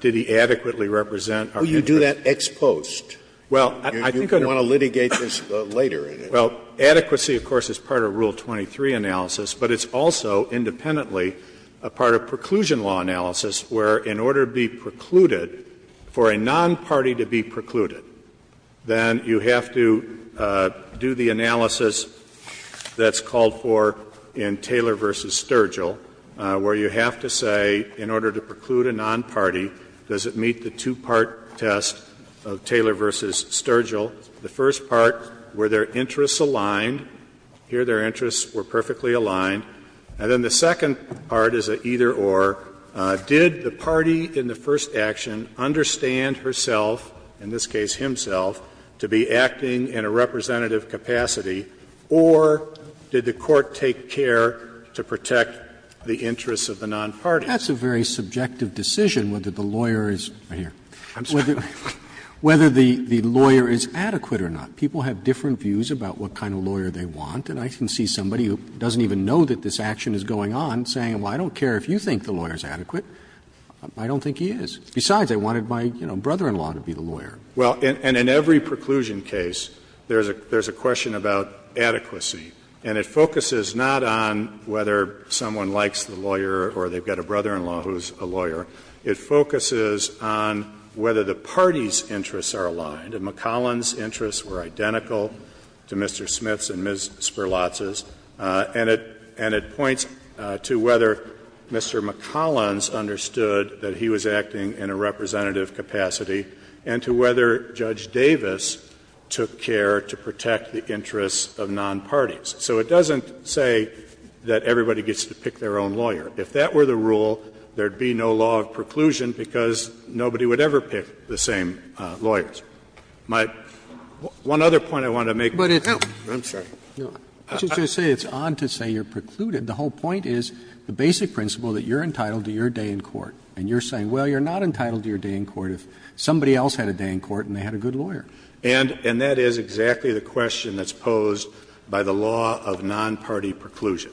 did he adequately represent our interest? Well, you do that ex post. Well, I think I don't know. You want to litigate this later. Well, adequacy, of course, is part of Rule 23 analysis, but it's also independently a part of preclusion law analysis, where in order to be precluded, for a non-party to be precluded, then you have to do the analysis that's called for in Taylor v. Sturgill, where you have to say, in order to preclude a non-party, does it meet the two-part test of Taylor v. Sturgill, the first part, where they're independent, and the second part, are their interests aligned, here their interests were perfectly aligned, and then the second part is an either-or, did the party in the first action understand herself, in this case himself, to be acting in a representative capacity, or did the court take care to protect the interests of the non-party? That's a very subjective decision, whether the lawyer is adequate or not. People have different views about what kind of lawyer they want, and I can see somebody who doesn't even know that this action is going on saying, well, I don't care if you think the lawyer is adequate, I don't think he is. Besides, I wanted my, you know, brother-in-law to be the lawyer. Well, and in every preclusion case, there's a question about adequacy, and it focuses not on whether someone likes the lawyer or they've got a brother-in-law who is a lawyer. It focuses on whether the parties' interests are aligned, and McCollin's interests were identical to Mr. Smith's and Ms. Spurlatz's, and it points to whether Mr. McCollin's understood that he was acting in a representative capacity, and to whether Judge Davis took care to protect the interests of non-parties. So it doesn't say that everybody gets to pick their own lawyer. If that were the rule, there would be no law of preclusion because nobody would ever pick the same lawyers. My one other point I want to make is that it's on to say you're precluded. The whole point is the basic principle that you're entitled to your day in court. And you're saying, well, you're not entitled to your day in court if somebody else had a day in court and they had a good lawyer. And that is exactly the question that's posed by the law of non-party preclusion.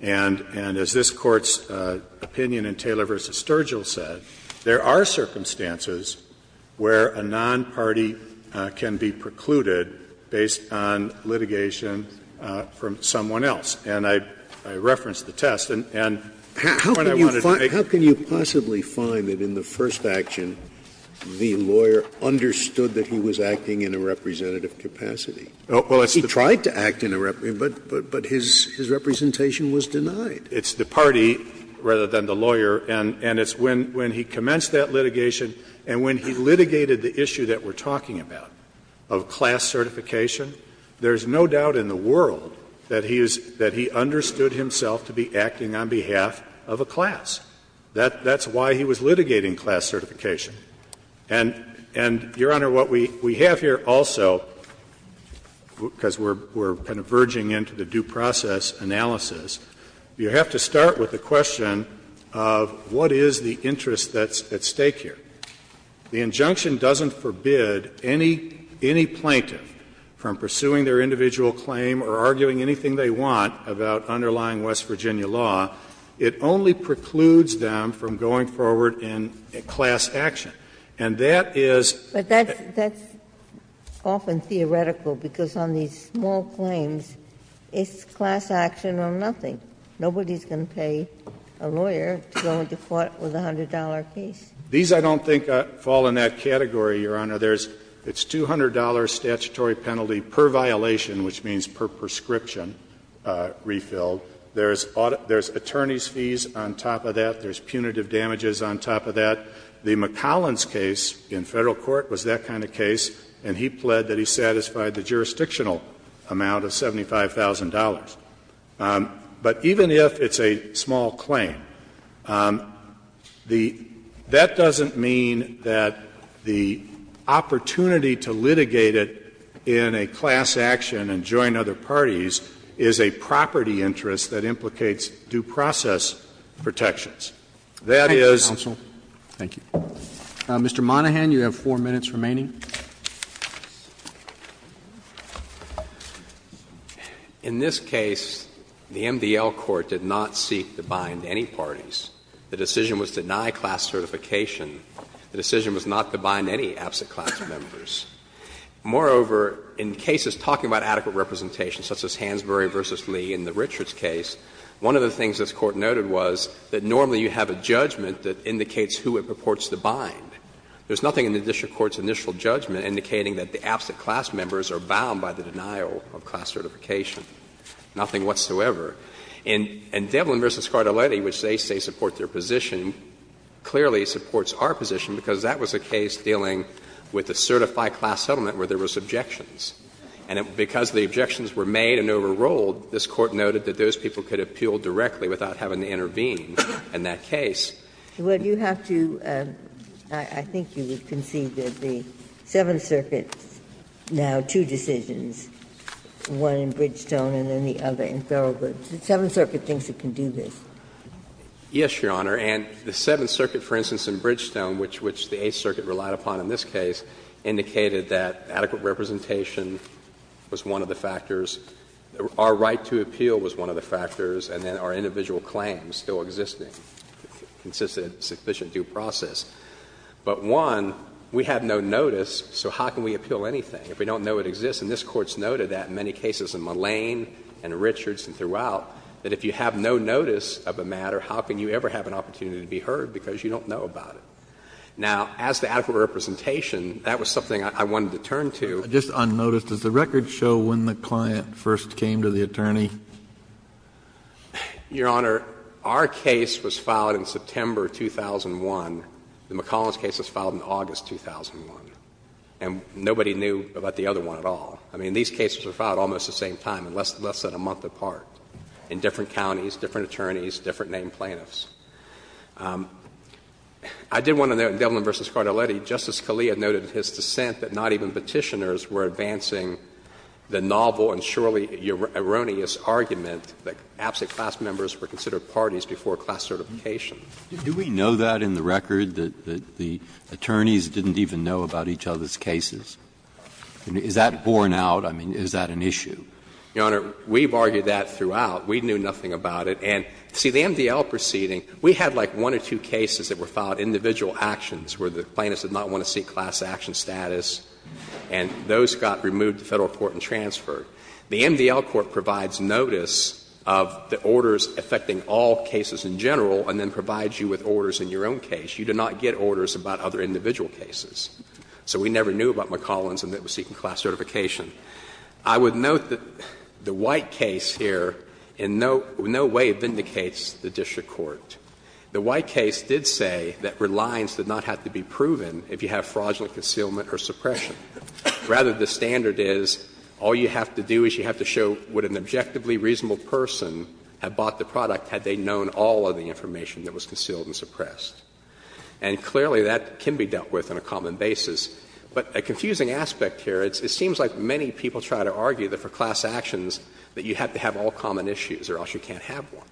And as this Court's opinion in Taylor v. Sturgill said, there are circumstances where a non-party can be precluded based on litigation from someone else. And I referenced the test. And the point I wanted to make is that there are circumstances in which a non-party can be precluded based on litigation from someone else. He tried to act in a rep, but his representation was denied. It's the party rather than the lawyer. And it's when he commenced that litigation and when he litigated the issue that we're talking about of class certification, there's no doubt in the world that he understood himself to be acting on behalf of a class. That's why he was litigating class certification. And, Your Honor, what we have here also, because we're kind of verging into the due process analysis, you have to start with the question of what is the interest that's at stake here. The injunction doesn't forbid any plaintiff from pursuing their individual claim or arguing anything they want about underlying West Virginia law. It only precludes them from going forward in class action. And that is the case. Ginsburg. But that's often theoretical, because on these small claims, it's class action or nothing. Nobody's going to pay a lawyer to go into court with a $100 case. These, I don't think, fall in that category, Your Honor. There's the $200 statutory penalty per violation, which means per prescription refilled. There's attorneys' fees on top of that. There's punitive damages on top of that. The McCollins case in Federal court was that kind of case, and he pled that he satisfied the jurisdictional amount of $75,000. But even if it's a small claim, the — that doesn't mean that the opportunity to litigate it in a class action and join other parties is a property interest that implicates due process protections. That is. Roberts. Thank you, counsel. Thank you. Mr. Monahan, you have 4 minutes remaining. Monahan. In this case, the MDL court did not seek to bind any parties. The decision was to deny class certification. The decision was not to bind any absent class members. Moreover, in cases talking about adequate representation, such as Hansberry v. Lee in the Richards case, one of the things this Court noted was that normally you have a judgment that indicates who it purports to bind. There's nothing in the district court's initial judgment indicating that the absent class members are bound by the denial of class certification, nothing whatsoever. And Devlin v. Scardelletti, which they say supports their position, clearly supports our position, because that was a case dealing with a certified class settlement where there was objections. And because the objections were made and overruled, this Court noted that those people could appeal directly without having to intervene in that case. Well, you have to – I think you would concede that the Seventh Circuit now two decisions, one in Bridgestone and then the other in Thoreau. But the Seventh Circuit thinks it can do this. Yes, Your Honor. And the Seventh Circuit, for instance, in Bridgestone, which the Eighth Circuit relied upon in this case, indicated that adequate representation was one of the factors – our right to appeal was one of the factors and then our individual claims still existing, consistent, sufficient due process. But one, we have no notice, so how can we appeal anything if we don't know it exists? And this Court's noted that in many cases in Mullane and Richards and throughout, that if you have no notice of a matter, how can you ever have an opportunity to be heard because you don't know about it? Now, as to adequate representation, that was something I wanted to turn to. Kennedy, just unnoticed, does the record show when the client first came to the attorney? Your Honor, our case was filed in September 2001. The McCollins case was filed in August 2001. And nobody knew about the other one at all. I mean, these cases were filed almost at the same time and less than a month apart in different counties, different attorneys, different named plaintiffs. I did want to note in Devlin v. Cardelletti, Justice Scalia noted in his dissent that not even Petitioners were advancing the novel and surely erroneous argument that absent class members were considered parties before class certification. Do we know that in the record, that the attorneys didn't even know about each other's cases? I mean, is that borne out? I mean, is that an issue? Your Honor, we've argued that throughout. We knew nothing about it. And, see, the MDL proceeding, we had like one or two cases that were filed, individual actions, where the plaintiffs did not want to seek class action status, and those got removed to Federal court and transferred. The MDL court provides notice of the orders affecting all cases in general and then provides you with orders in your own case. You do not get orders about other individual cases. So we never knew about McCollins and that it was seeking class certification. I would note that the White case here in no way vindicates the district court. The White case did say that reliance did not have to be proven if you have fraudulent concealment or suppression. Rather, the standard is all you have to do is you have to show would an objectively reasonable person have bought the product had they known all of the information that was concealed and suppressed. And clearly, that can be dealt with on a common basis. But a confusing aspect here, it seems like many people try to argue that for class actions that you have to have all common issues or else you can't have one.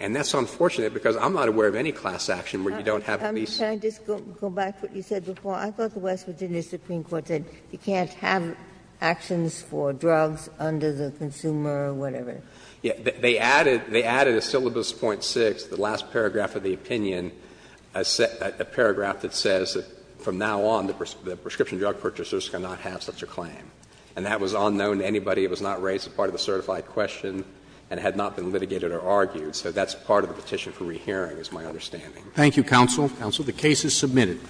And that's unfortunate because I'm not aware of any class action where you don't have at least one. Ginsburg. Can I just go back to what you said before? I thought the West Virginia Supreme Court said you can't have actions for drugs under the consumer or whatever. They added a syllabus 0.6, the last paragraph of the opinion, a paragraph that says that from now on, the prescription drug purchasers cannot have such a claim. And that was unknown to anybody. It was not raised as part of the certified question and had not been litigated or argued. So that's part of the petition for rehearing, is my understanding. Thank you, counsel. Counsel, the case is submitted.